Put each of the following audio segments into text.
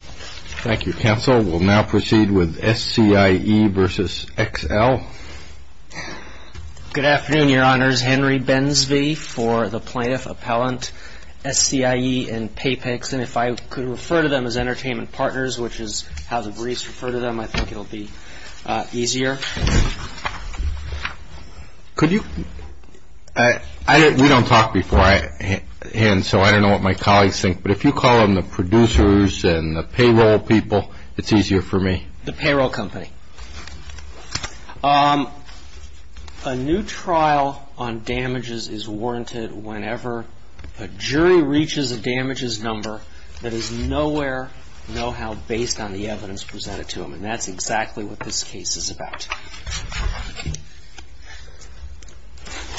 Thank you, counsel. We'll now proceed with SCIE v. XL. Good afternoon, Your Honors. Henry Bensvie for the Plaintiff Appellant, SCIE and PayPix. And if I could refer to them as entertainment partners, which is how the briefs refer to them, I think it will be easier. Could you – we don't talk beforehand, so I don't know what my colleagues think. But if you call them the producers and the payroll people, it's easier for me. The payroll company. A new trial on damages is warranted whenever a jury reaches a damages number that is nowhere, no how based on the evidence presented to them. And that's exactly what this case is about.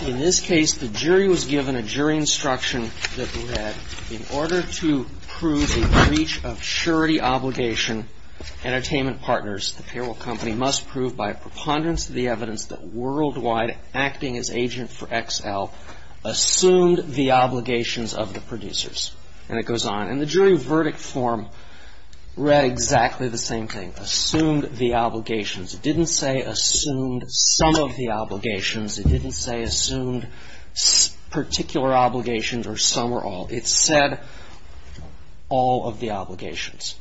In this case, the jury was given a jury instruction that read, in order to prove a breach of surety obligation, entertainment partners, the payroll company, must prove by a preponderance of the evidence that worldwide acting as agent for XL assumed the obligations of the producers. And it goes on. And the jury verdict form read exactly the same thing, assumed the obligations. It didn't say assumed some of the obligations. It didn't say assumed particular obligations or some or all. It said all of the obligations.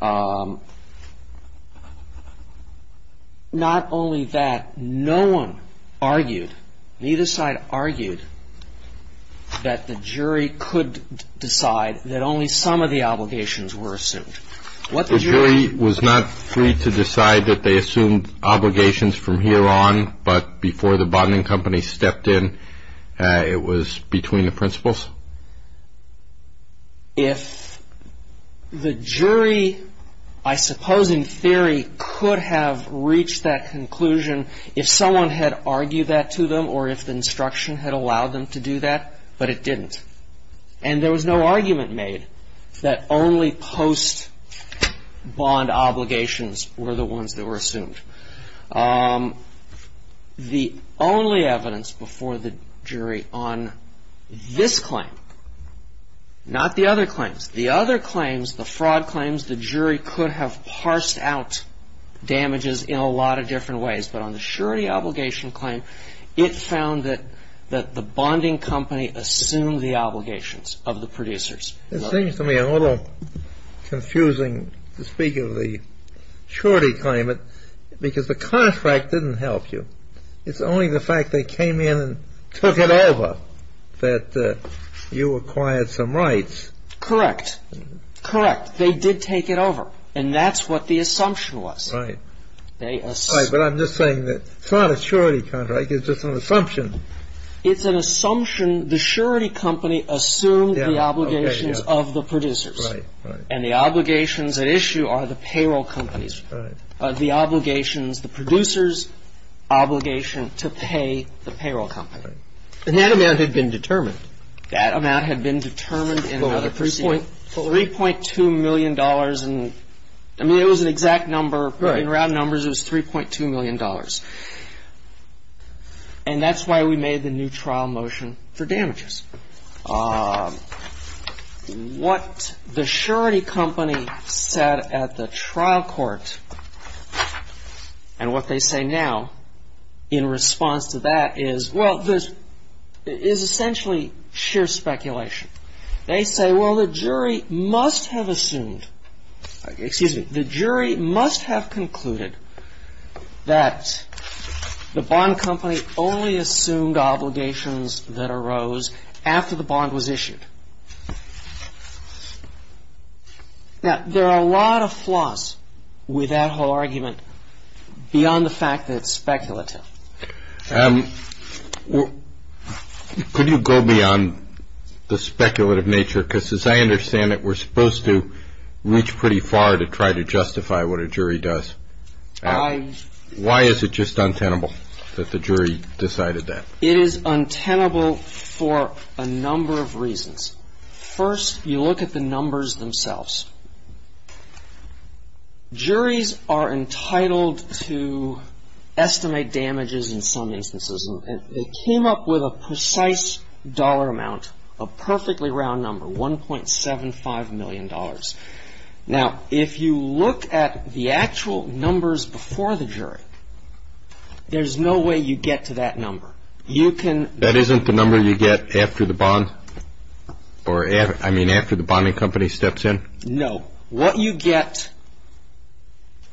Not only that, no one argued, neither side argued, that the jury could decide that only some of the obligations were assumed. The jury was not free to decide that they assumed obligations from here on, but before the bonding company stepped in, it was between the principals? If the jury, I suppose in theory, could have reached that conclusion, if someone had argued that to them or if the instruction had allowed them to do that, but it didn't. And there was no argument made that only post-bond obligations were the ones that were assumed. The only evidence before the jury on this claim, not the other claims. The other claims, the fraud claims, the jury could have parsed out damages in a lot of different ways. But on the surety obligation claim, it found that the bonding company assumed the obligations of the producers. It seems to me a little confusing to speak of the surety claim, because the contract didn't help you. It's only the fact they came in and took it over that you acquired some rights. Correct. Correct. They did take it over. And that's what the assumption was. Right. But I'm just saying that it's not a surety contract. It's just an assumption. It's an assumption. The surety company assumed the obligations of the producers. Right. Right. And the obligations at issue are the payroll companies. Right. The obligations, the producers' obligation to pay the payroll company. Right. And that amount had been determined. That amount had been determined in another proceeding. $3.2 million. I mean, it was an exact number. In round numbers, it was $3.2 million. And that's why we made the new trial motion for damages. What the surety company said at the trial court and what they say now in response to that is, well, this is essentially sheer speculation. They say, well, the jury must have assumed, excuse me, the jury must have concluded that the bond company only assumed obligations that arose after the bond was issued. Now, there are a lot of flaws with that whole argument beyond the fact that it's speculative. Could you go beyond the speculative nature? Because as I understand it, we're supposed to reach pretty far to try to justify what a jury does. Why is it just untenable that the jury decided that? It is untenable for a number of reasons. First, you look at the numbers themselves. Juries are entitled to estimate damages in some instances. And they came up with a precise dollar amount, a perfectly round number, $1.75 million. Now, if you look at the actual numbers before the jury, there's no way you get to that number. You can — That isn't the number you get after the bond? Or, I mean, after the bonding company steps in? No. What you get,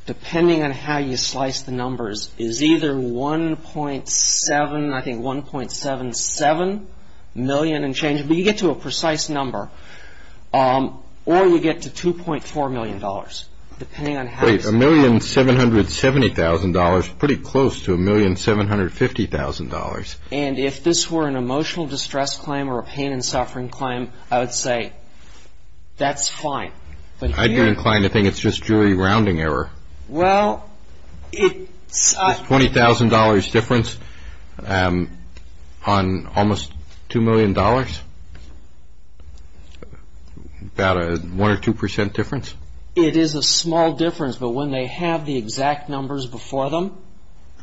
depending on how you slice the numbers, is either 1.7, I think 1.77 million and changing. But you get to a precise number. Or you get to $2.4 million, depending on how you slice it. Wait, $1,770,000, pretty close to $1,750,000. And if this were an emotional distress claim or a pain and suffering claim, I would say, that's fine. I'd be inclined to think it's just jury rounding error. Well, it's — $20,000 difference on almost $2 million? About a 1 or 2 percent difference? It is a small difference. But when they have the exact numbers before them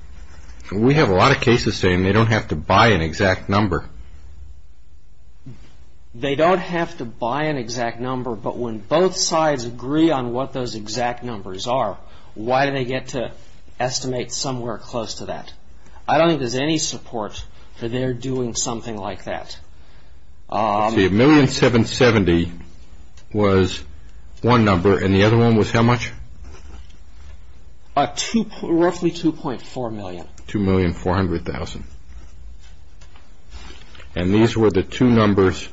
— We have a lot of cases saying they don't have to buy an exact number. They don't have to buy an exact number, but when both sides agree on what those exact numbers are, why do they get to estimate somewhere close to that? I don't think there's any support for their doing something like that. $1,770,000 was one number, and the other one was how much? Roughly $2.4 million. $2,400,000. And these were the two numbers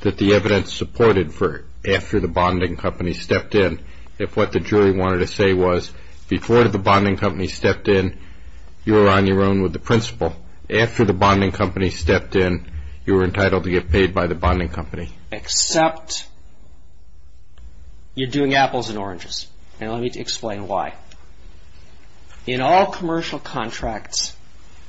that the evidence supported for after the bonding company stepped in. If what the jury wanted to say was, before the bonding company stepped in, you were on your own with the principal. After the bonding company stepped in, you were entitled to get paid by the bonding company. Except you're doing apples and oranges, and let me explain why. In all commercial contracts,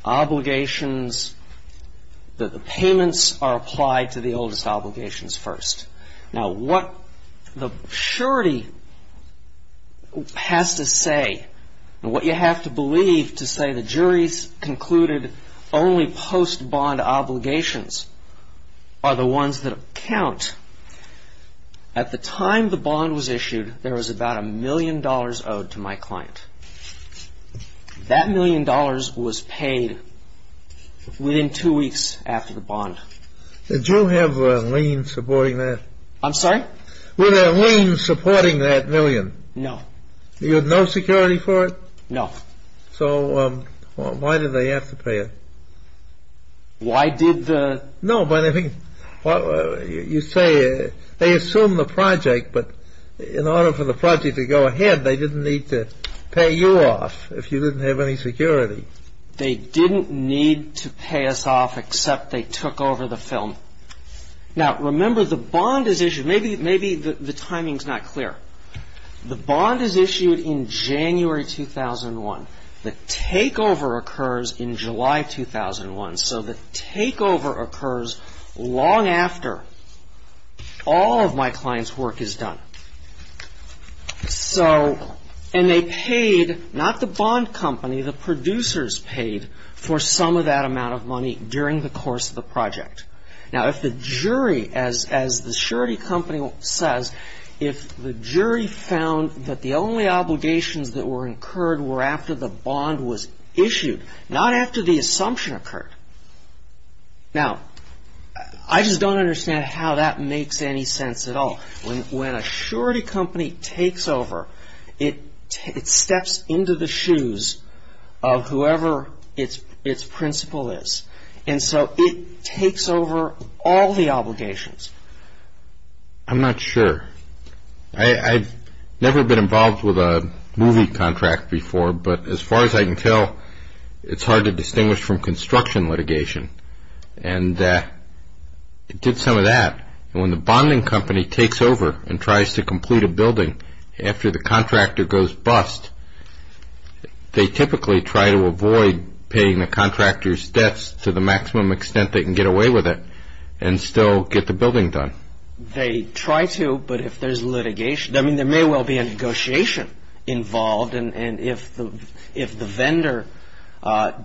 the payments are applied to the oldest obligations first. Now, what the surety has to say and what you have to believe to say the jury's concluded only post-bond obligations are the ones that count. At the time the bond was issued, there was about a million dollars owed to my client. That million dollars was paid within two weeks after the bond. Did you have a lien supporting that? I'm sorry? Were there liens supporting that million? No. You had no security for it? No. So why did they have to pay it? Why did the... No, but I think you say they assume the project, but in order for the project to go ahead, they didn't need to pay you off if you didn't have any security. They didn't need to pay us off except they took over the film. Now, remember, the bond is issued. Maybe the timing's not clear. The bond is issued in January 2001. The takeover occurs in July 2001. So the takeover occurs long after all of my client's work is done. And they paid not the bond company, the producers paid for some of that amount of money during the course of the project. Now, if the jury, as the surety company says, if the jury found that the only obligations that were incurred were after the bond was issued, not after the assumption occurred. Now, I just don't understand how that makes any sense at all. When a surety company takes over, it steps into the shoes of whoever its principal is. And so it takes over all the obligations. I'm not sure. I've never been involved with a movie contract before, but as far as I can tell, it's hard to distinguish from construction litigation. And it did some of that. And when the bonding company takes over and tries to complete a building after the contractor goes bust, they typically try to avoid paying the contractor's debts to the maximum extent they can get away with it and still get the building done. They try to, but if there's litigation, I mean, there may well be a negotiation involved. And if the vendor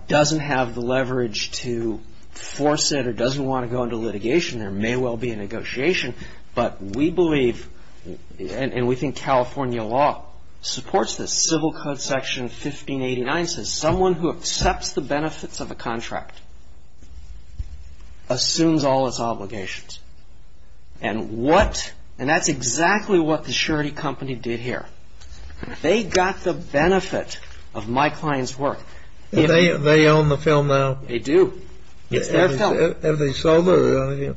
doesn't have the leverage to force it or doesn't want to go into litigation, there may well be a negotiation. But we believe and we think California law supports this. Civil Code Section 1589 says someone who accepts the benefits of a contract assumes all its obligations. And that's exactly what the surety company did here. They got the benefit of my client's work. They own the film now? They do. It's their film. And they sold it?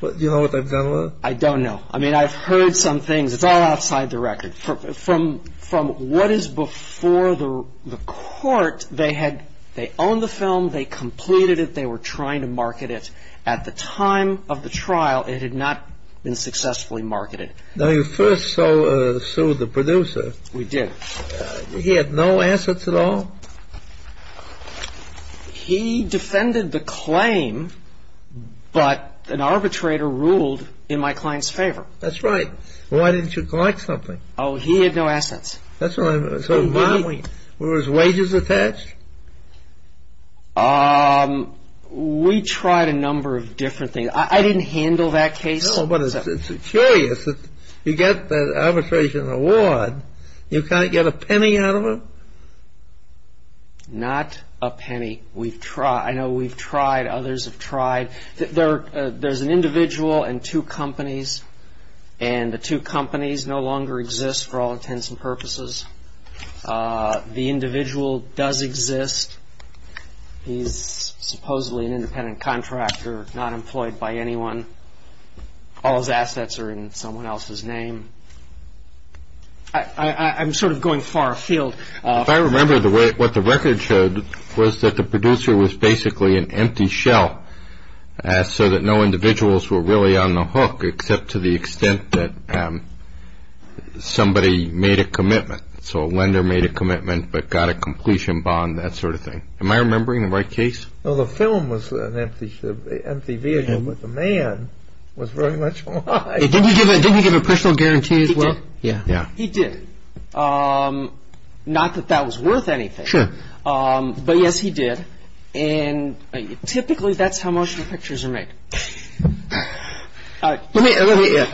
Do you know what they've done with it? I don't know. I mean, I've heard some things. It's all outside the record. From what is before the court, they had owned the film, they completed it, they were trying to market it. At the time of the trial, it had not been successfully marketed. Now, you first sued the producer. We did. He had no assets at all? He defended the claim, but an arbitrator ruled in my client's favor. That's right. Why didn't you collect something? Oh, he had no assets. That's right. So were his wages attached? We tried a number of different things. I didn't handle that case. No, but it's curious that you get that arbitration award, you can't get a penny out of it? Not a penny. I know we've tried, others have tried. There's an individual and two companies, and the two companies no longer exist for all intents and purposes. The individual does exist. He's supposedly an independent contractor, not employed by anyone. All his assets are in someone else's name. I'm sort of going far afield. If I remember what the record showed was that the producer was basically an empty shell, so that no individuals were really on the hook, except to the extent that somebody made a commitment. So a lender made a commitment, but got a completion bond, that sort of thing. Am I remembering the right case? No, the film was an empty vehicle, but the man was very much alive. Didn't he give a personal guarantee as well? He did. Yeah. He did. Not that that was worth anything. Sure. But yes, he did, and typically that's how motion pictures are made. Let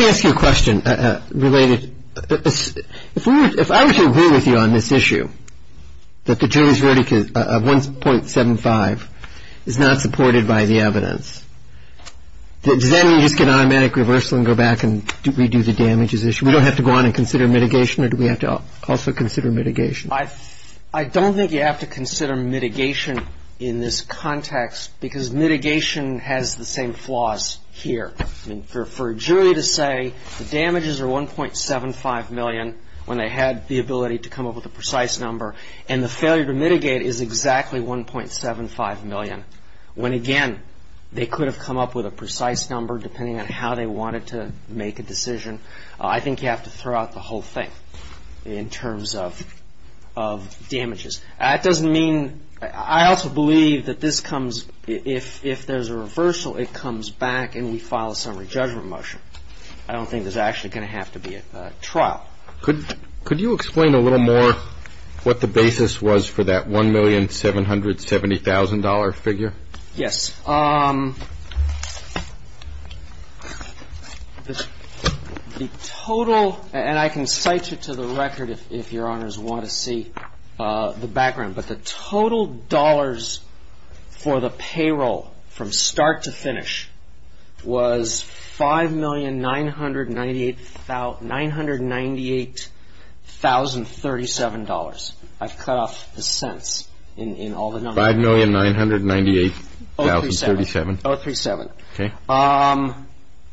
me ask you a question related. If I were to agree with you on this issue, that the jury's verdict of 1.75 is not supported by the evidence, does that mean you just get an automatic reversal and go back and redo the damages issue? We don't have to go on and consider mitigation, or do we have to also consider mitigation? I don't think you have to consider mitigation in this context, because mitigation has the same flaws here. For a jury to say the damages are 1.75 million when they had the ability to come up with a precise number, and the failure to mitigate is exactly 1.75 million, when, again, they could have come up with a precise number depending on how they wanted to make a decision, I think you have to throw out the whole thing in terms of damages. That doesn't mean – I also believe that this comes – if there's a reversal, it comes back and we file a summary judgment motion. I don't think there's actually going to have to be a trial. Could you explain a little more what the basis was for that $1,770,000 figure? Yes. The total – and I can cite you to the record if Your Honors want to see the background. But the total dollars for the payroll from start to finish was $5,998,037. I've cut off the cents in all the numbers. $5,998,037. $5,998,037. Okay.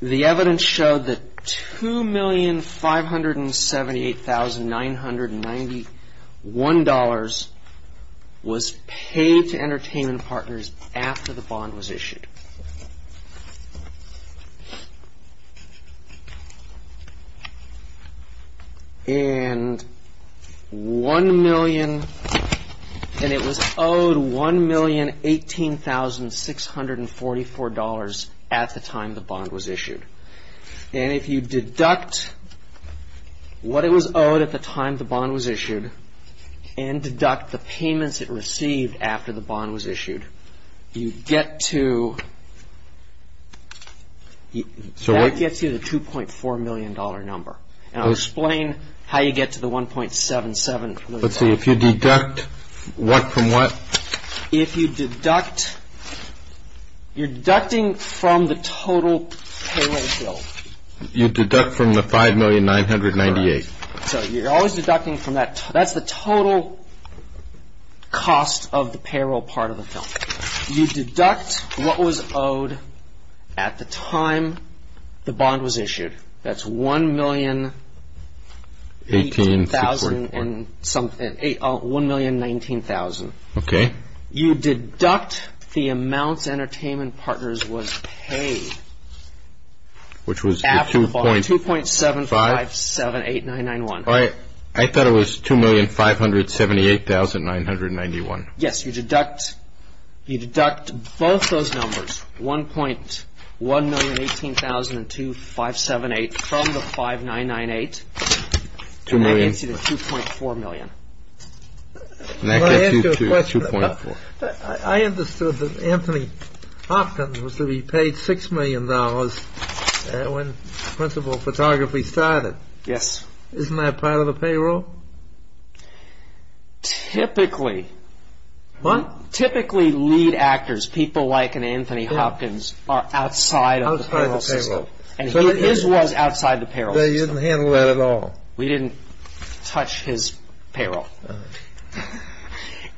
The evidence showed that $2,578,991 was paid to entertainment partners after the bond was issued. And $1,018,644 at the time the bond was issued. And if you deduct what it was owed at the time the bond was issued and deduct the payments it received after the bond was issued, you get to – that gets you the $2.4 million number. And I'll explain how you get to the $1.77 million number. Let's see. If you deduct what from what? If you deduct – you're deducting from the total payroll bill. You deduct from the $5,998,000. So you're always deducting from that. That's the total cost of the payroll part of the film. You deduct what was owed at the time the bond was issued. That's $1,018,000 and something – $1,019,000. Okay. You deduct the amount entertainment partners was paid after the bond. Which was the 2.75? 2.7578991. I thought it was $2,578,991. Yes. You deduct both those numbers, $1,018,000 and $2,578,000 from the $5,998,000. $2 million. And that gets you the $2.4 million. I understood that Anthony Hopkins was to be paid $6 million when principal photography started. Yes. Isn't that part of the payroll? Typically. What? Typically lead actors, people like an Anthony Hopkins, are outside of the payroll system. Outside the payroll. And his was outside the payroll system. They didn't handle that at all. We didn't touch his payroll.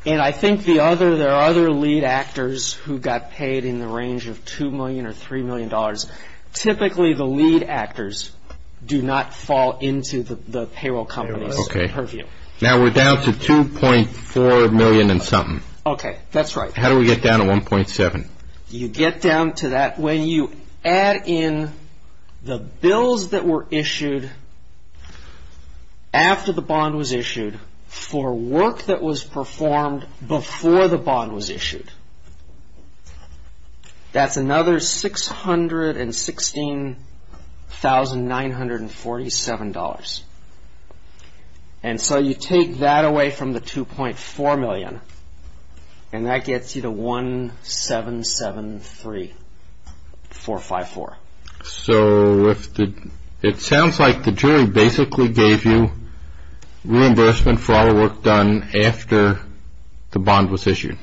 And I think there are other lead actors who got paid in the range of $2 million or $3 million. Typically the lead actors do not fall into the payroll companies' purview. Now we're down to $2.4 million and something. Okay. That's right. How do we get down to $1.7? You get down to that. When you add in the bills that were issued after the bond was issued for work that was performed before the bond was issued, that's another $616,947. And so you take that away from the $2.4 million. And that gets you to $1,773,454. So it sounds like the jury basically gave you reimbursement for all the work done after the bond was issued.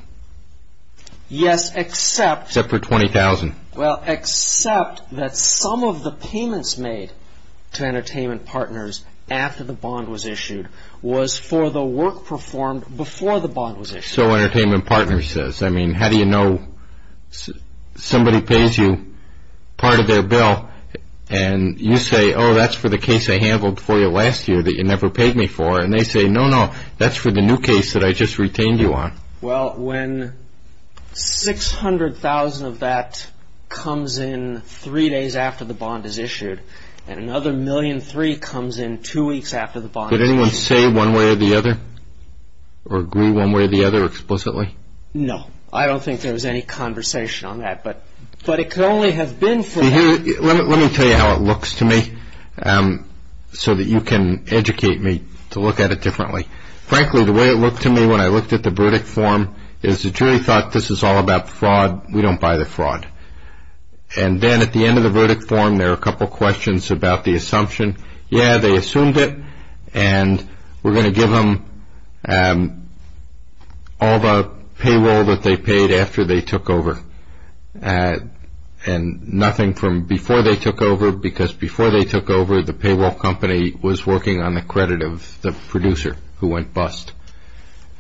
Yes, except for $20,000. Well, except that some of the payments made to entertainment partners after the bond was issued was for the work performed before the bond was issued. So entertainment partners says, I mean, how do you know somebody pays you part of their bill, and you say, oh, that's for the case I handled for you last year that you never paid me for. And they say, no, no, that's for the new case that I just retained you on. Well, when $600,000 of that comes in three days after the bond is issued, and another $1.3 million comes in two weeks after the bond is issued. Did anyone say one way or the other or agree one way or the other explicitly? No. I don't think there was any conversation on that. But it could only have been for that. Let me tell you how it looks to me so that you can educate me to look at it differently. Frankly, the way it looked to me when I looked at the verdict form is the jury thought this is all about fraud. We don't buy the fraud. And then at the end of the verdict form, there are a couple questions about the assumption, yeah, they assumed it, and we're going to give them all the payroll that they paid after they took over, and nothing from before they took over because before they took over, the payroll company was working on the credit of the producer who went bust.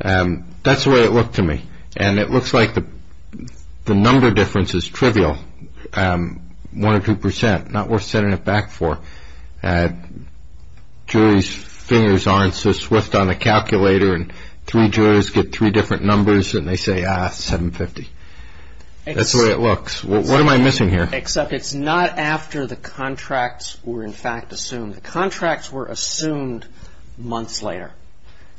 That's the way it looked to me. And it looks like the number difference is trivial, one or two percent, not worth setting it back for. Juries' fingers aren't so swift on a calculator, and three jurors get three different numbers, and they say, ah, 750. That's the way it looks. What am I missing here? Except it's not after the contracts were in fact assumed. The contracts were assumed months later.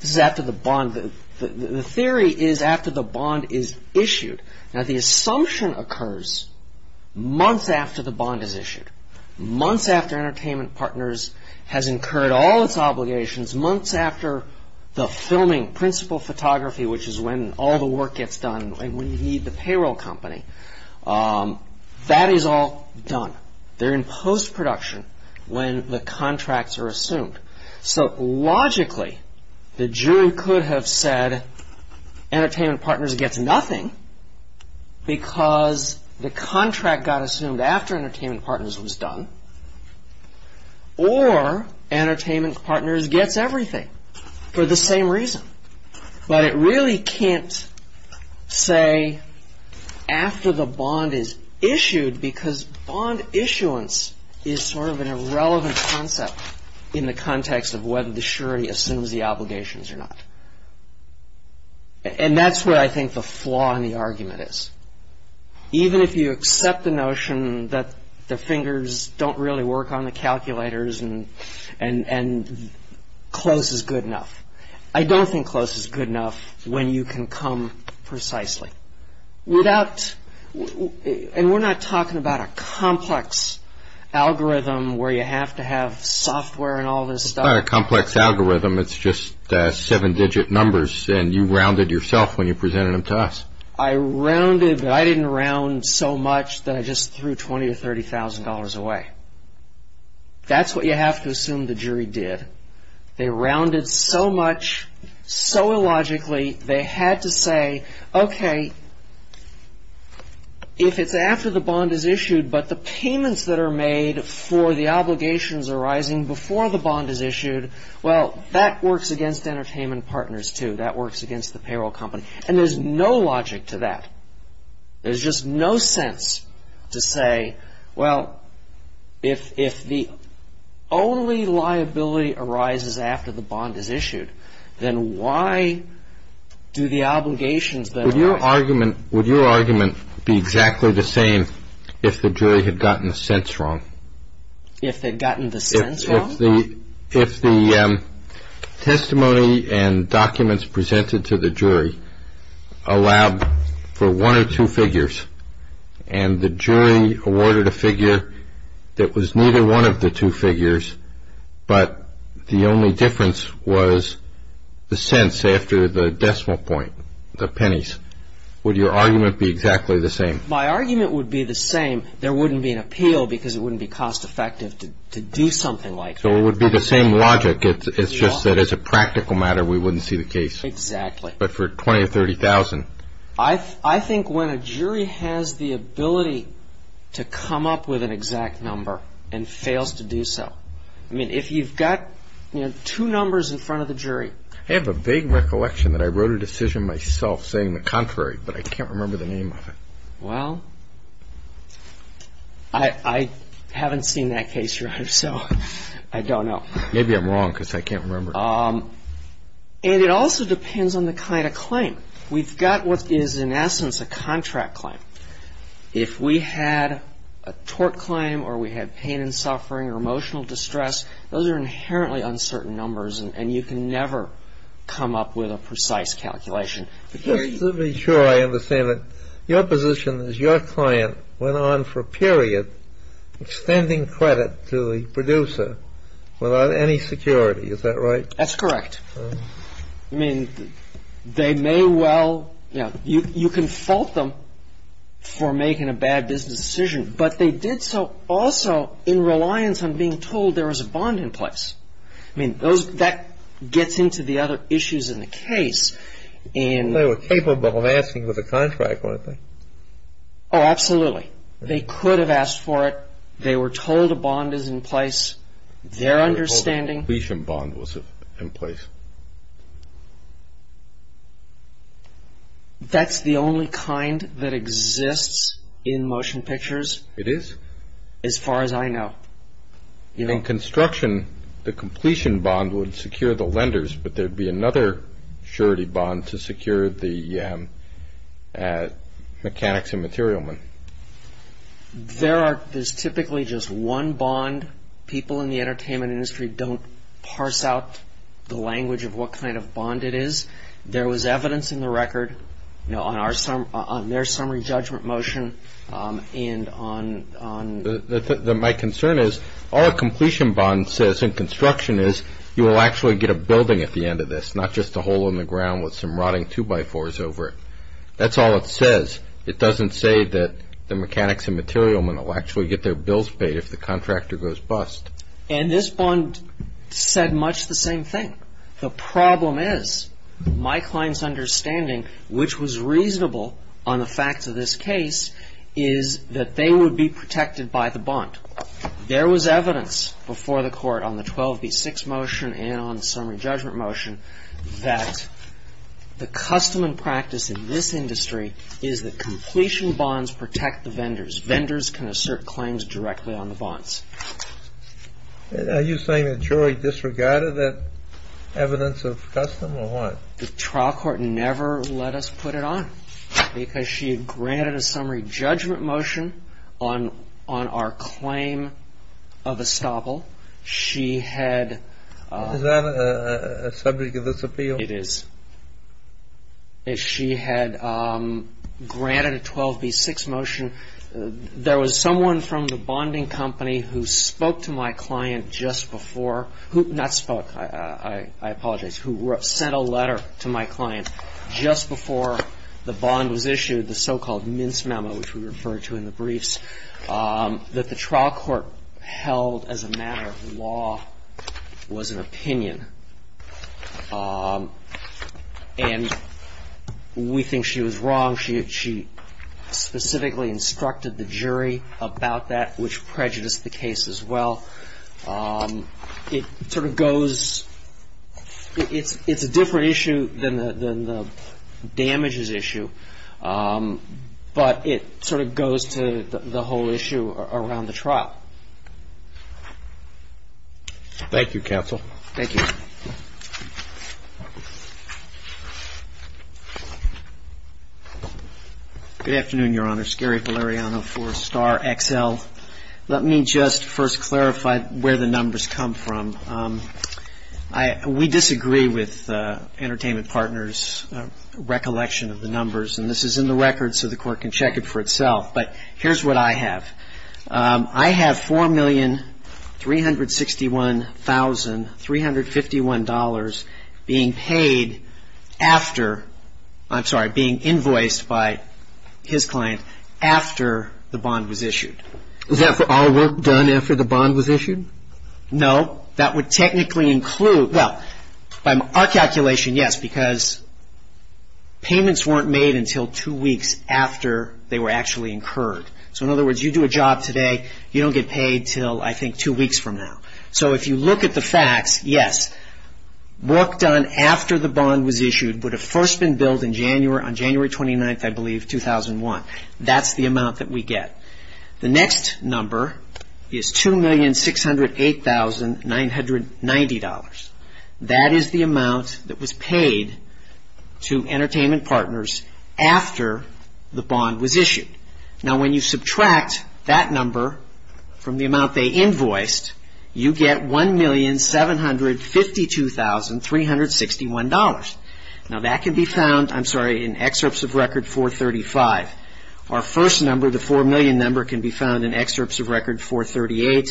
This is after the bond. The theory is after the bond is issued. Now, the assumption occurs months after the bond is issued, months after Entertainment Partners has incurred all its obligations, months after the filming, principal photography, which is when all the work gets done, when you need the payroll company. That is all done. They're in post-production when the contracts are assumed. So logically, the jury could have said Entertainment Partners gets nothing because the contract got assumed after Entertainment Partners was done, or Entertainment Partners gets everything for the same reason. But it really can't say after the bond is issued because bond issuance is sort of an irrelevant concept in the context of whether the jury assumes the obligations or not. And that's where I think the flaw in the argument is. Even if you accept the notion that the fingers don't really work on the calculators and close is good enough, I don't think close is good enough when you can come precisely. And we're not talking about a complex algorithm where you have to have software and all this stuff. It's not a complex algorithm. It's just seven-digit numbers, and you rounded yourself when you presented them to us. I rounded, but I didn't round so much that I just threw $20,000 or $30,000 away. That's what you have to assume the jury did. They rounded so much, so illogically, they had to say, okay, if it's after the bond is issued, but the payments that are made for the obligations arising before the bond is issued, well, that works against entertainment partners, too. That works against the payroll company. And there's no logic to that. There's just no sense to say, well, if the only liability arises after the bond is issued, then why do the obligations then arise? Would your argument be exactly the same if the jury had gotten the cents wrong? If they'd gotten the cents wrong? If the testimony and documents presented to the jury allowed for one or two figures, and the jury awarded a figure that was neither one of the two figures, but the only difference was the cents after the decimal point, the pennies, would your argument be exactly the same? My argument would be the same. There wouldn't be an appeal because it wouldn't be cost effective to do something like that. So it would be the same logic. It's just that as a practical matter, we wouldn't see the case. Exactly. But for $20,000 or $30,000? I think when a jury has the ability to come up with an exact number and fails to do so. I mean, if you've got two numbers in front of the jury. I have a vague recollection that I wrote a decision myself saying the contrary, but I can't remember the name of it. Well, I haven't seen that case, Your Honor, so I don't know. Maybe I'm wrong because I can't remember. And it also depends on the kind of claim. We've got what is in essence a contract claim. If we had a tort claim or we had pain and suffering or emotional distress, those are inherently uncertain numbers and you can never come up with a precise calculation. Just to be sure I understand it, your position is your client went on for a period extending credit to the producer without any security. Is that right? That's correct. I mean, they may well, you know, you can fault them for making a bad business decision, but they did so also in reliance on being told there was a bond in place. I mean, that gets into the other issues in the case. They were capable of asking for the contract, weren't they? Oh, absolutely. They could have asked for it. They were told a bond is in place. Their understanding. The completion bond was in place. That's the only kind that exists in motion pictures? It is. As far as I know. In construction, the completion bond would secure the lenders, but there would be another surety bond to secure the mechanics and material men. There's typically just one bond. People in the entertainment industry don't parse out the language of what kind of bond it is. There was evidence in the record on their summary judgment motion and on... My concern is all a completion bond says in construction is you will actually get a building at the end of this, not just a hole in the ground with some rotting two-by-fours over it. That's all it says. It doesn't say that the mechanics and material men will actually get their bills paid if the contractor goes bust. And this bond said much the same thing. The problem is my client's understanding, which was reasonable on the facts of this case, is that they would be protected by the bond. There was evidence before the Court on the 12B6 motion and on the summary judgment motion that the custom and practice in this industry is that completion bonds protect the vendors. Vendors can assert claims directly on the bonds. Are you saying the jury disregarded that evidence of custom or what? The trial court never let us put it on because she had granted a summary judgment motion on our claim of estoppel. She had... A summary of this appeal? It is. She had granted a 12B6 motion. There was someone from the bonding company who spoke to my client just before, not spoke, I apologize, who sent a letter to my client just before the bond was issued, the so-called mince memo, which we referred to in the briefs, that the trial court held as a matter of law was an opinion. And we think she was wrong. She specifically instructed the jury about that, which prejudiced the case as well. It sort of goes... It's a different issue than the damages issue, but it sort of goes to the whole issue around the trial. Thank you, counsel. Thank you. Good afternoon, Your Honor. Gary Valeriano for Star XL. Let me just first clarify where the numbers come from. We disagree with Entertainment Partners' recollection of the numbers, and this is in the record so the Court can check it for itself. But here's what I have. I have $4,361,351 being paid after, I'm sorry, being invoiced by his client after the bond was issued. No, that would technically include... Well, by our calculation, yes, because payments weren't made until two weeks after they were actually incurred. So in other words, you do a job today, you don't get paid until, I think, two weeks from now. So if you look at the facts, yes, work done after the bond was issued would have first been billed on January 29th, I believe, 2001. That's the amount that we get. The next number is $2,608,990. That is the amount that was paid to Entertainment Partners after the bond was issued. Now, when you subtract that number from the amount they invoiced, you get $1,752,361. Now, that can be found, I'm sorry, in excerpts of Record 435. Our first number, the $4 million number, can be found in excerpts of Record 438,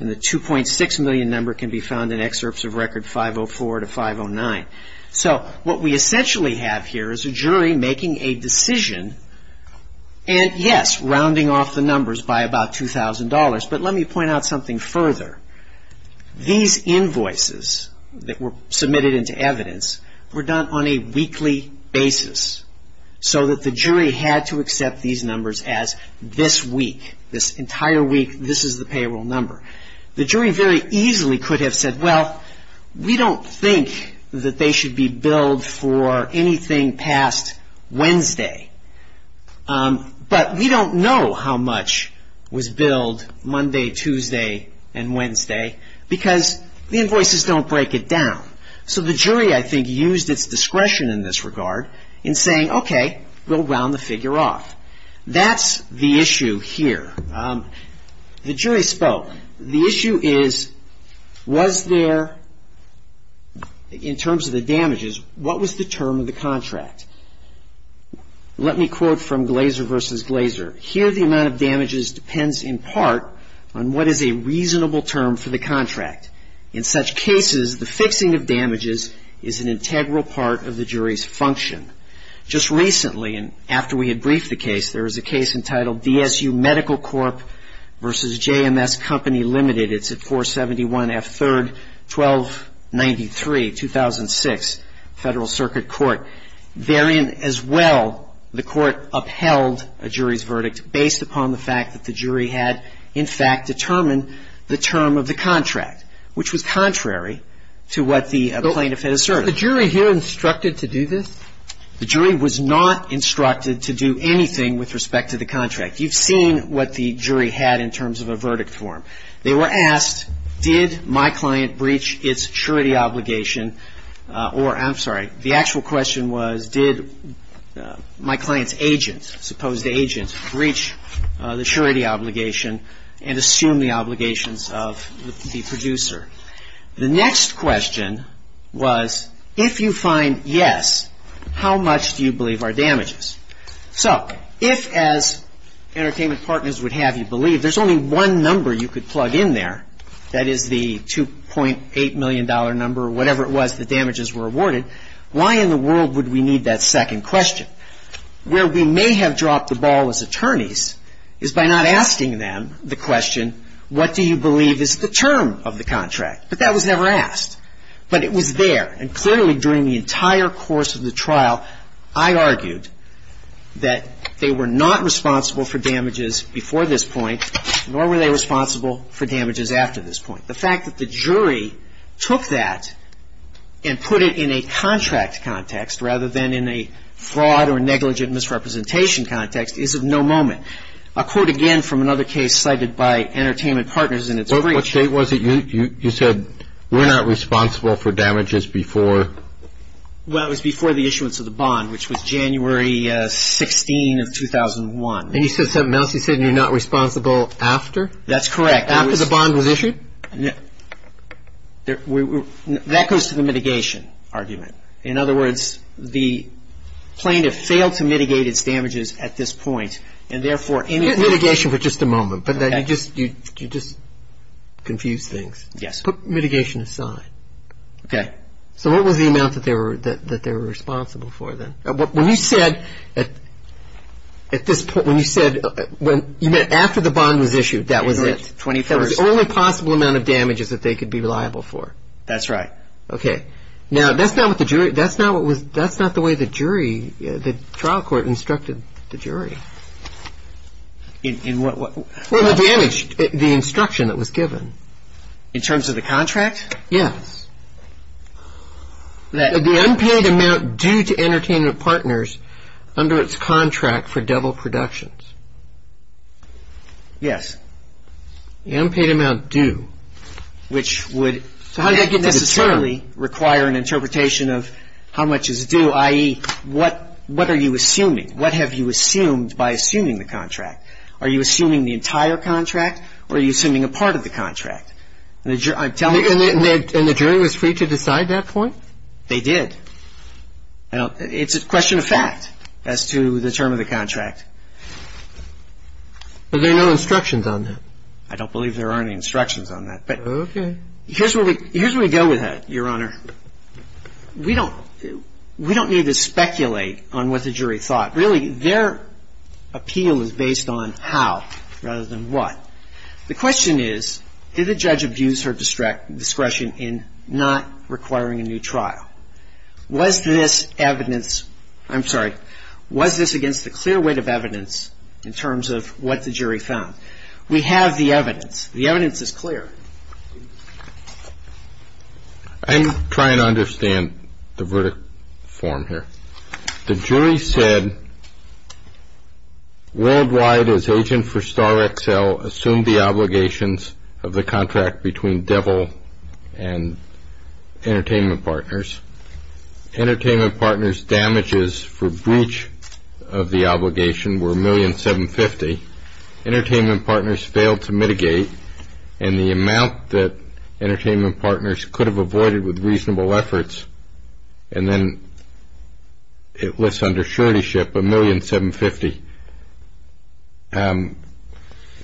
and the $2.6 million number can be found in excerpts of Record 504 to 509. So what we essentially have here is a jury making a decision and, yes, rounding off the numbers by about $2,000. But let me point out something further. These invoices that were submitted into evidence were done on a weekly basis so that the jury had to accept these numbers as this week, this entire week, this is the payroll number. The jury very easily could have said, well, we don't think that they should be billed for anything past Wednesday, but we don't know how much was billed Monday, Tuesday, and Wednesday because the invoices don't break it down. So the jury, I think, used its discretion in this regard in saying, okay, we'll round the figure off. That's the issue here. The jury spoke. The issue is, was there, in terms of the damages, what was the term of the contract? Let me quote from Glazer v. Glazer. Here the amount of damages depends in part on what is a reasonable term for the contract. In such cases, the fixing of damages is an integral part of the jury's function. Just recently, and after we had briefed the case, there was a case entitled DSU Medical Corp. v. JMS Company Limited. It's at 471 F. 3rd, 1293, 2006, Federal Circuit Court. Therein as well, the court upheld a jury's verdict based upon the fact that the jury had, in fact, determined the term of the contract, which was contrary to what the plaintiff had asserted. So the jury here instructed to do this? The jury was not instructed to do anything with respect to the contract. You've seen what the jury had in terms of a verdict form. They were asked, did my client breach its surety obligation or, I'm sorry, the actual question was did my client's agent, supposed agent, breach the surety obligation and assume the obligations of the producer? The next question was if you find yes, how much do you believe are damages? So if, as entertainment partners would have you believe, there's only one number you could plug in there, that is the $2.8 million number or whatever it was the damages were awarded, why in the world would we need that second question? And the answer to that, where we may have dropped the ball as attorneys, is by not asking them the question, what do you believe is the term of the contract? But that was never asked. But it was there. And clearly during the entire course of the trial, I argued that they were not responsible for damages before this point, nor were they responsible for damages after this point. The fact that the jury took that and put it in a contract context rather than in a fraud or negligent misrepresentation context is of no moment. I'll quote again from another case cited by entertainment partners in its brief. What date was it you said we're not responsible for damages before? Well, it was before the issuance of the bond, which was January 16 of 2001. And you said something else. You said you're not responsible after? That's correct. After the bond was issued? That goes to the mitigation argument. In other words, the plaintiff failed to mitigate its damages at this point, and therefore any of the Mitigation for just a moment. Okay. But you just confused things. Yes. Put mitigation aside. Okay. So what was the amount that they were responsible for then? When you said at this point, when you said you meant after the bond was issued, that was it? That was the only possible amount of damages that they could be liable for. That's right. Okay. Now, that's not the way the jury, the trial court instructed the jury. In what way? Well, the damage, the instruction that was given. In terms of the contract? Yes. The unpaid amount due to entertainment partners under its contract for devil productions. Yes. The unpaid amount due, which would necessarily require an interpretation of how much is due, i.e., what are you assuming? What have you assumed by assuming the contract? Are you assuming the entire contract, or are you assuming a part of the contract? And the jury was free to decide that point? They did. I don't believe there are any instructions on that. Okay. Here's where we go with it, Your Honor. We don't need to speculate on what the jury thought. Really, their appeal is based on how rather than what. The question is, did the judge abuse her discretion in not requiring a new trial? Was this evidence ‑‑ I'm sorry. Was this against the clear weight of evidence in terms of what the jury found? We have the evidence. The evidence is clear. I'm trying to understand the verdict form here. The jury said worldwide, as agent for Star XL, assumed the obligations of the contract between devil and entertainment partners. Entertainment partners' damages for breach of the obligation were $1,750,000. Entertainment partners failed to mitigate, and the amount that entertainment partners could have avoided with reasonable efforts, and then it lists under suretyship $1,750,000.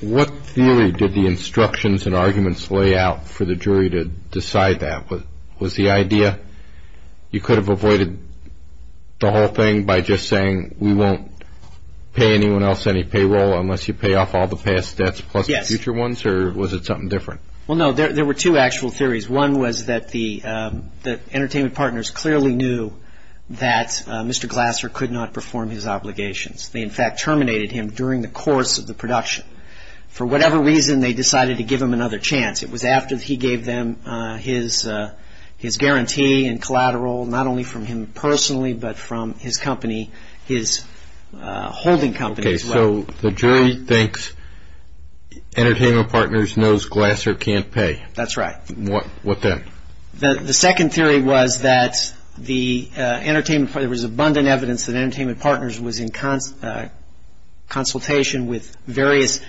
What theory did the instructions and arguments lay out for the jury to decide that? Was the idea you could have avoided the whole thing by just saying, we won't pay anyone else any payroll unless you pay off all the past debts plus the future ones? Yes. Or was it something different? Well, no, there were two actual theories. One was that the entertainment partners clearly knew that Mr. Glasser could not perform his obligations. They, in fact, terminated him during the course of the production. For whatever reason, they decided to give him another chance. It was after he gave them his guarantee and collateral, not only from him personally, but from his company, his holding company as well. Okay, so the jury thinks entertainment partners knows Glasser can't pay. That's right. What then? The second theory was that there was abundant evidence that entertainment partners was in consultation with various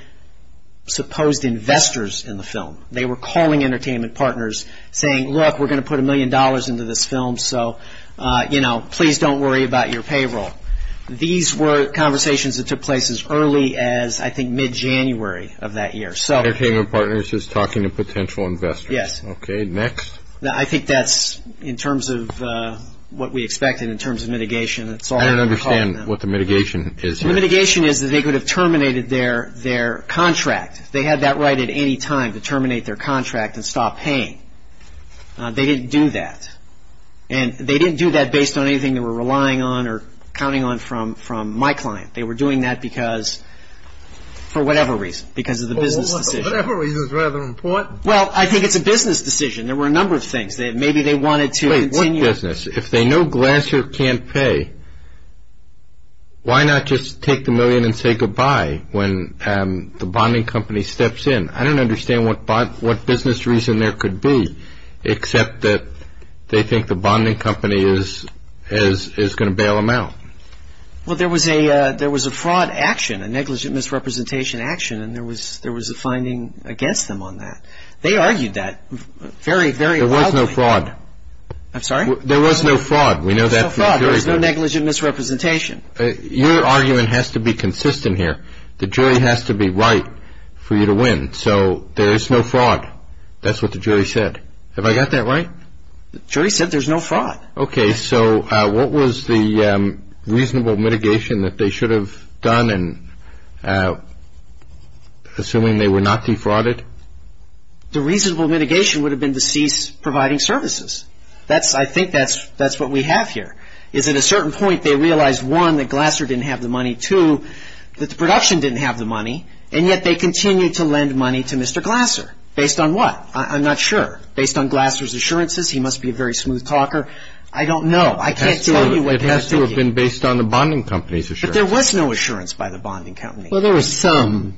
supposed investors in the film. They were calling entertainment partners saying, look, we're going to put a million dollars into this film, so please don't worry about your payroll. These were conversations that took place as early as, I think, mid-January of that year. Entertainment partners was talking to potential investors. Yes. Okay, next. I think that's in terms of what we expected in terms of mitigation. I don't understand what the mitigation is here. The mitigation is that they could have terminated their contract. They had that right at any time to terminate their contract and stop paying. They didn't do that. And they didn't do that based on anything they were relying on or counting on from my client. They were doing that for whatever reason, because of the business decision. For whatever reason is rather important. Well, I think it's a business decision. There were a number of things. Maybe they wanted to continue. Wait, what business? If they know Glasser can't pay, why not just take the million and say goodbye when the bonding company steps in? I don't understand what business reason there could be, except that they think the bonding company is going to bail them out. Well, there was a fraud action, a negligent misrepresentation action, and there was a finding against them on that. They argued that very, very loudly. There was no fraud. I'm sorry? There was no fraud. There was no fraud. There was no negligent misrepresentation. Your argument has to be consistent here. The jury has to be right for you to win. So there is no fraud. That's what the jury said. Have I got that right? The jury said there's no fraud. Okay. So what was the reasonable mitigation that they should have done, assuming they were not defrauded? The reasonable mitigation would have been to cease providing services. I think that's what we have here, is at a certain point they realized, one, that Glasser didn't have the money, two, that the production didn't have the money, and yet they continued to lend money to Mr. Glasser. Based on what? I'm not sure. Based on Glasser's assurances, he must be a very smooth talker. I don't know. I can't tell you what has to be. It has to have been based on the bonding company's assurances. But there was no assurance by the bonding company. Well, there was some.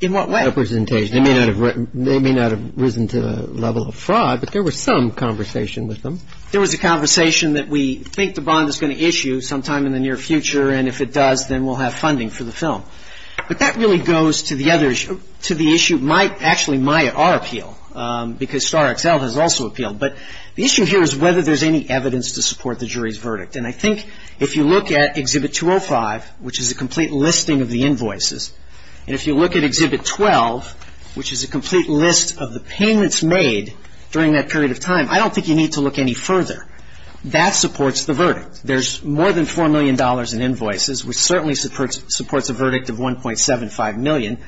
In what way? They may not have risen to the level of fraud, but there was some conversation with them. There was a conversation that we think the bond is going to issue sometime in the near future, and if it does, then we'll have funding for the film. But that really goes to the other issue, to the issue, actually, my appeal, because Starr XL has also appealed. But the issue here is whether there's any evidence to support the jury's verdict. And I think if you look at Exhibit 205, which is a complete listing of the invoices, and if you look at Exhibit 12, which is a complete list of the payments made during that period of time, I don't think you need to look any further. That supports the verdict. There's more than $4 million in invoices, which certainly supports a verdict of $1.75 million.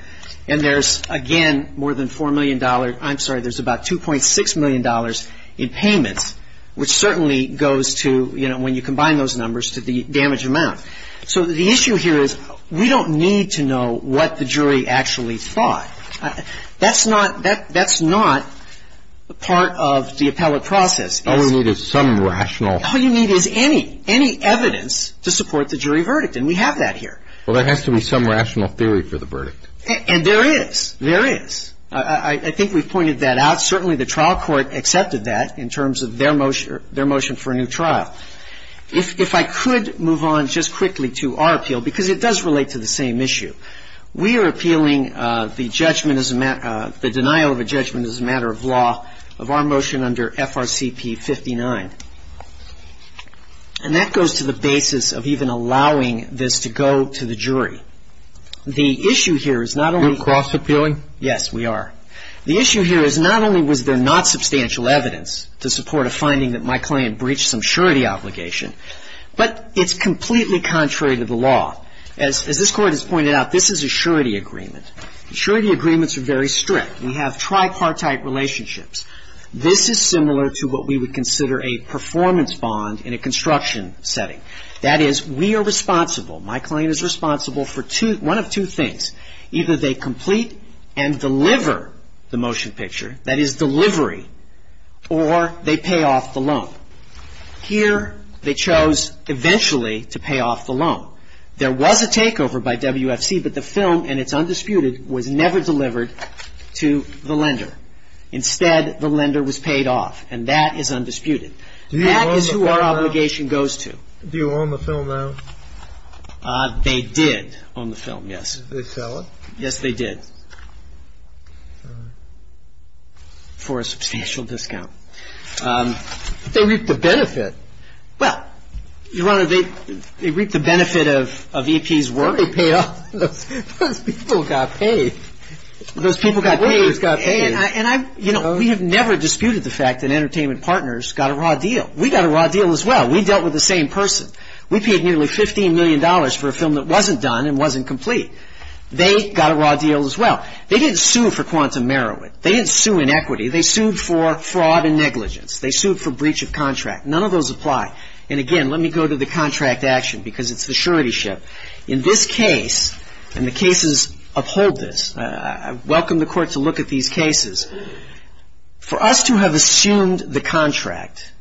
And there's, again, more than $4 million. I'm sorry, there's about $2.6 million in payments, which certainly goes to, you know, when you combine those numbers, to the damage amount. So the issue here is we don't need to know what the jury actually thought. That's not part of the appellate process. All we need is some rational. All you need is any, any evidence to support the jury verdict. And we have that here. Well, there has to be some rational theory for the verdict. And there is. There is. I think we've pointed that out. Certainly the trial court accepted that in terms of their motion for a new trial. If I could move on just quickly to our appeal, because it does relate to the same issue. We are appealing the judgment as a matter of the denial of a judgment as a matter of law of our motion under FRCP 59. And that goes to the basis of even allowing this to go to the jury. The issue here is not only... You're cross appealing? Yes, we are. The issue here is not only was there not substantial evidence to support a finding that my client breached some surety obligation, but it's completely contrary to the law. As this Court has pointed out, this is a surety agreement. Surety agreements are very strict. We have tripartite relationships. This is similar to what we would consider a performance bond in a construction setting. That is, we are responsible, my client is responsible for one of two things. Either they complete and deliver the motion picture, that is delivery, or they pay off the loan. Here they chose eventually to pay off the loan. There was a takeover by WFC, but the film, and it's undisputed, was never delivered to the lender. Instead, the lender was paid off, and that is undisputed. That is who our obligation goes to. Do you own the film now? They did own the film, yes. Did they sell it? Yes, they did. For a substantial discount. They reaped the benefit. Well, Your Honor, they reaped the benefit of EP's work. Those people got paid. Those people got paid, and we have never disputed the fact that Entertainment Partners got a raw deal. We got a raw deal as well. We dealt with the same person. We paid nearly $15 million for a film that wasn't done and wasn't complete. They got a raw deal as well. They didn't sue for quantum merriment. They didn't sue in equity. They sued for fraud and negligence. They sued for breach of contract. None of those apply. And, again, let me go to the contract action because it's the surety ship. In this case, and the cases uphold this, I welcome the Court to look at these cases, for us to have assumed the contract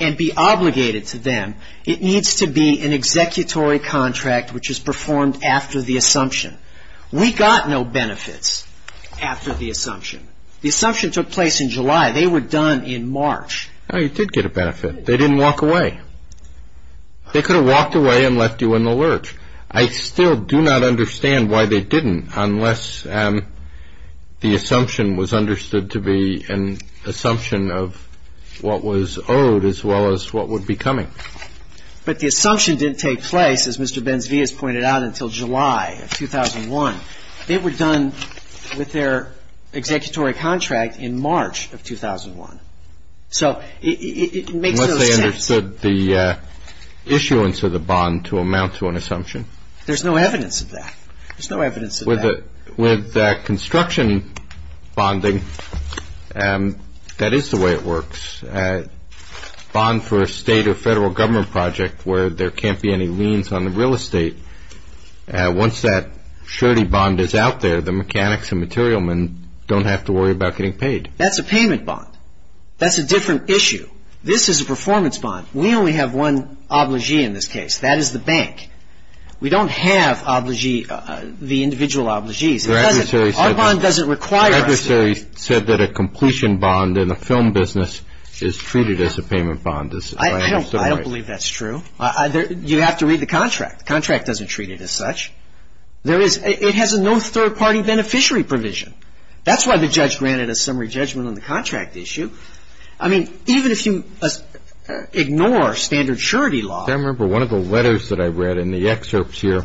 and be obligated to them, it needs to be an executory contract which is performed after the assumption. We got no benefits after the assumption. The assumption took place in July. They were done in March. Oh, you did get a benefit. They didn't walk away. They could have walked away and left you in the lurch. I still do not understand why they didn't, unless the assumption was understood to be an assumption of what was owed as well as what would be coming. But the assumption didn't take place, as Mr. Benzias pointed out, until July of 2001. They were done with their executory contract in March of 2001. So it makes no sense. Unless they understood the issuance of the bond to amount to an assumption. There's no evidence of that. There's no evidence of that. With construction bonding, that is the way it works. A bond for a state or federal government project where there can't be any liens on the real estate, once that surety bond is out there, the mechanics and material men don't have to worry about getting paid. That's a payment bond. That's a different issue. This is a performance bond. We only have one obligee in this case. That is the bank. We don't have obligee, the individual obligees. Our bond doesn't require us to. The adversary said that a completion bond in the film business is treated as a payment bond. I don't believe that's true. You have to read the contract. The contract doesn't treat it as such. It has no third-party beneficiary provision. That's why the judge granted a summary judgment on the contract issue. I mean, even if you ignore standard surety law. I remember one of the letters that I read in the excerpts here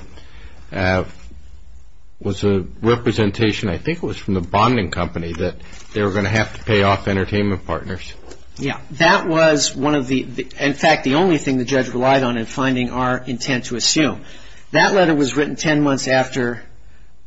was a representation, I think it was from the bonding company, that they were going to have to pay off entertainment partners. Yeah. That was one of the, in fact, the only thing the judge relied on in finding our intent to assume. That letter was written ten months after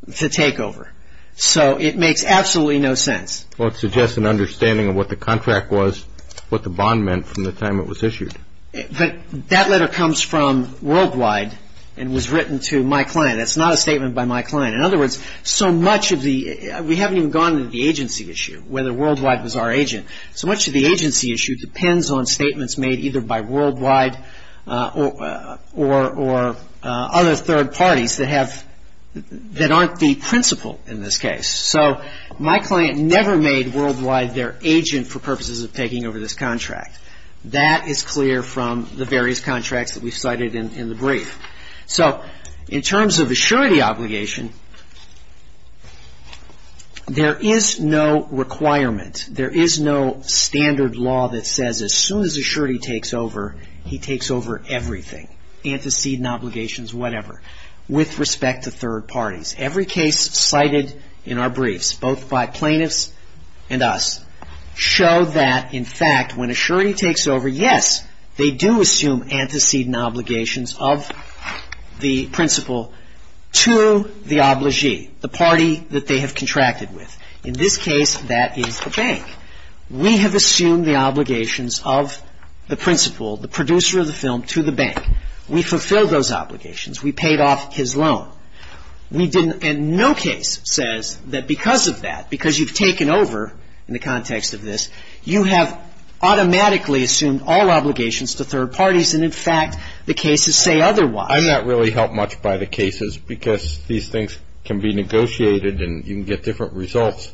the takeover. So it makes absolutely no sense. Well, it suggests an understanding of what the contract was, what the bond meant from the time it was issued. But that letter comes from Worldwide and was written to my client. That's not a statement by my client. In other words, so much of the, we haven't even gone into the agency issue, whether Worldwide was our agent. So much of the agency issue depends on statements made either by Worldwide or other third parties that have, that aren't the principle in this case. So my client never made Worldwide their agent for purposes of taking over this contract. That is clear from the various contracts that we've cited in the brief. So in terms of a surety obligation, there is no requirement, there is no standard law that says as soon as a surety takes over, he takes over everything, antecedent obligations, whatever, with respect to third parties. Every case cited in our briefs, both by plaintiffs and us, show that, in fact, when a surety takes over, yes, they do assume antecedent obligations of the principal to the obligee, the party that they have contracted with. In this case, that is the bank. We have assumed the obligations of the principal, the producer of the film, to the bank. We fulfilled those obligations. We paid off his loan. We didn't, and no case says that because of that, because you've taken over in the context of this, you have automatically assumed all obligations to third parties, and, in fact, the cases say otherwise. I'm not really helped much by the cases because these things can be negotiated and you can get different results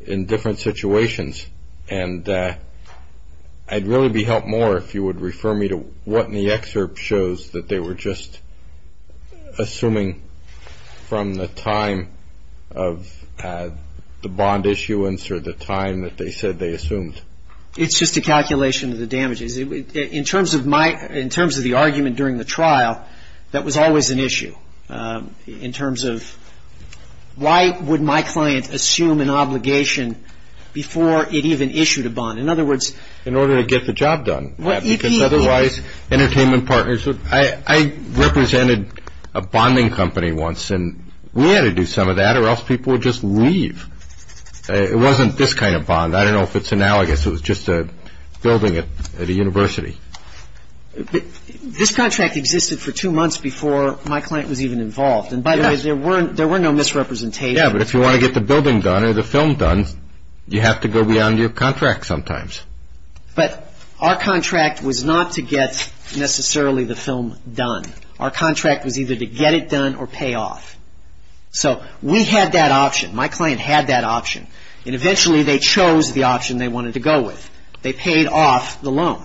in different situations, and I'd really be helped more if you would refer me to what in the excerpt shows that they were just assuming from the time of the bond issuance or the time that they said they assumed. It's just a calculation of the damages. In terms of the argument during the trial, that was always an issue. In terms of why would my client assume an obligation before it even issued a bond? In other words. In order to get the job done. Because otherwise entertainment partners would. I represented a bonding company once, and we had to do some of that or else people would just leave. It wasn't this kind of bond. I don't know if it's analogous. It was just a building at a university. This contract existed for two months before my client was even involved. And, by the way, there were no misrepresentations. Yeah, but if you want to get the building done or the film done, you have to go beyond your contract sometimes. But our contract was not to get necessarily the film done. Our contract was either to get it done or pay off. So we had that option. My client had that option. And eventually they chose the option they wanted to go with. They paid off the loan.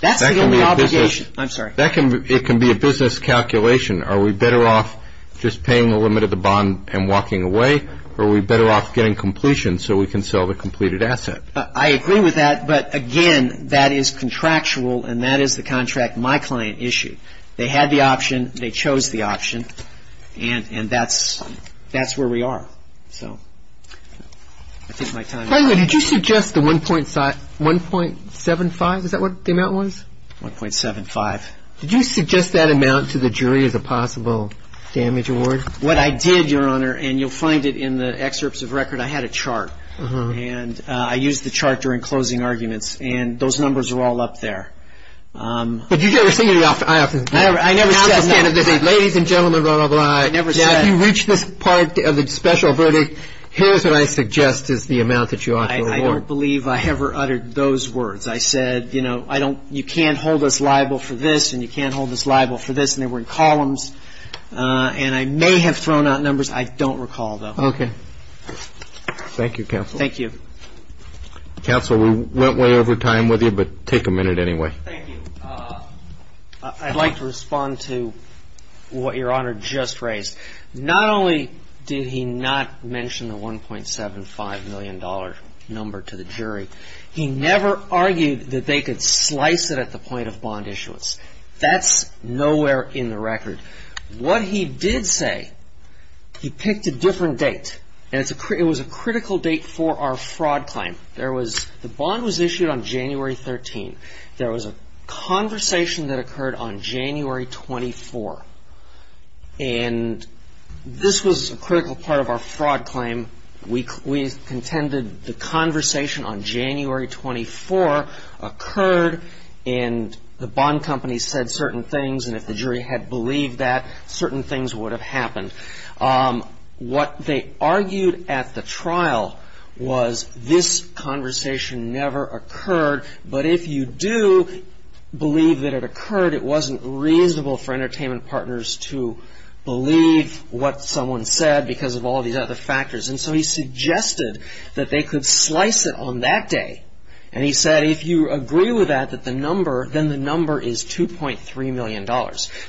That's the only obligation. I'm sorry. It can be a business calculation. Are we better off just paying the limit of the bond and walking away, or are we better off getting completion so we can sell the completed asset? I agree with that. But, again, that is contractual, and that is the contract my client issued. They had the option. They chose the option. And that's where we are. So I think my time is up. By the way, did you suggest the 1.75? Is that what the amount was? 1.75. Did you suggest that amount to the jury as a possible damage award? What I did, Your Honor, and you'll find it in the excerpts of record, I had a chart. And I used the chart during closing arguments. And those numbers are all up there. But you never said it. Ladies and gentlemen, blah, blah, blah. I never said it. If you reach this part of the special verdict, here's what I suggest is the amount that you ought to award. I don't believe I ever uttered those words. I said, you know, you can't hold us liable for this, and you can't hold us liable for this. And they were in columns. And I may have thrown out numbers. I don't recall, though. Okay. Thank you, Counsel. Thank you. Counsel, we went way over time with you, but take a minute anyway. Thank you. I'd like to respond to what Your Honor just raised. Not only did he not mention the $1.75 million number to the jury, he never argued that they could slice it at the point of bond issuance. That's nowhere in the record. What he did say, he picked a different date. And it was a critical date for our fraud claim. The bond was issued on January 13th. There was a conversation that occurred on January 24th. And this was a critical part of our fraud claim. We contended the conversation on January 24th occurred, and the bond company said certain things, and if the jury had believed that, certain things would have happened. What they argued at the trial was this conversation never occurred, but if you do believe that it occurred, it wasn't reasonable for entertainment partners to believe what someone said because of all these other factors. And so he suggested that they could slice it on that day. And he said if you agree with that, that the number, then the number is $2.3 million.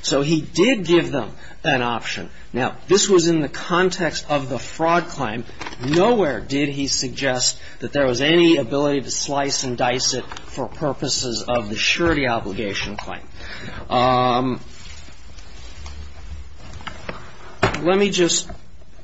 So he did give them an option. Now, this was in the context of the fraud claim. Nowhere did he suggest that there was any ability to slice and dice it for purposes of the surety obligation claim. Let me just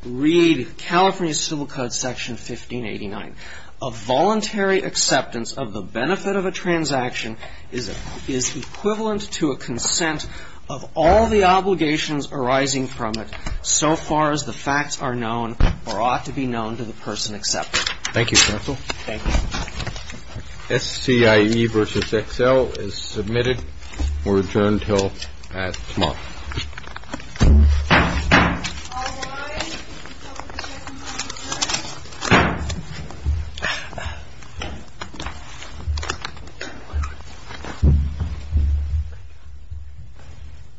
read California Civil Code Section 1589. A voluntary acceptance of the benefit of a transaction is equivalent to a consent of all the obligations arising from it so far as the facts are known or ought to be known to the person accepting it. Thank you, counsel. Thank you. SCIE v. XL is submitted. We'll return until at tomorrow. All rise.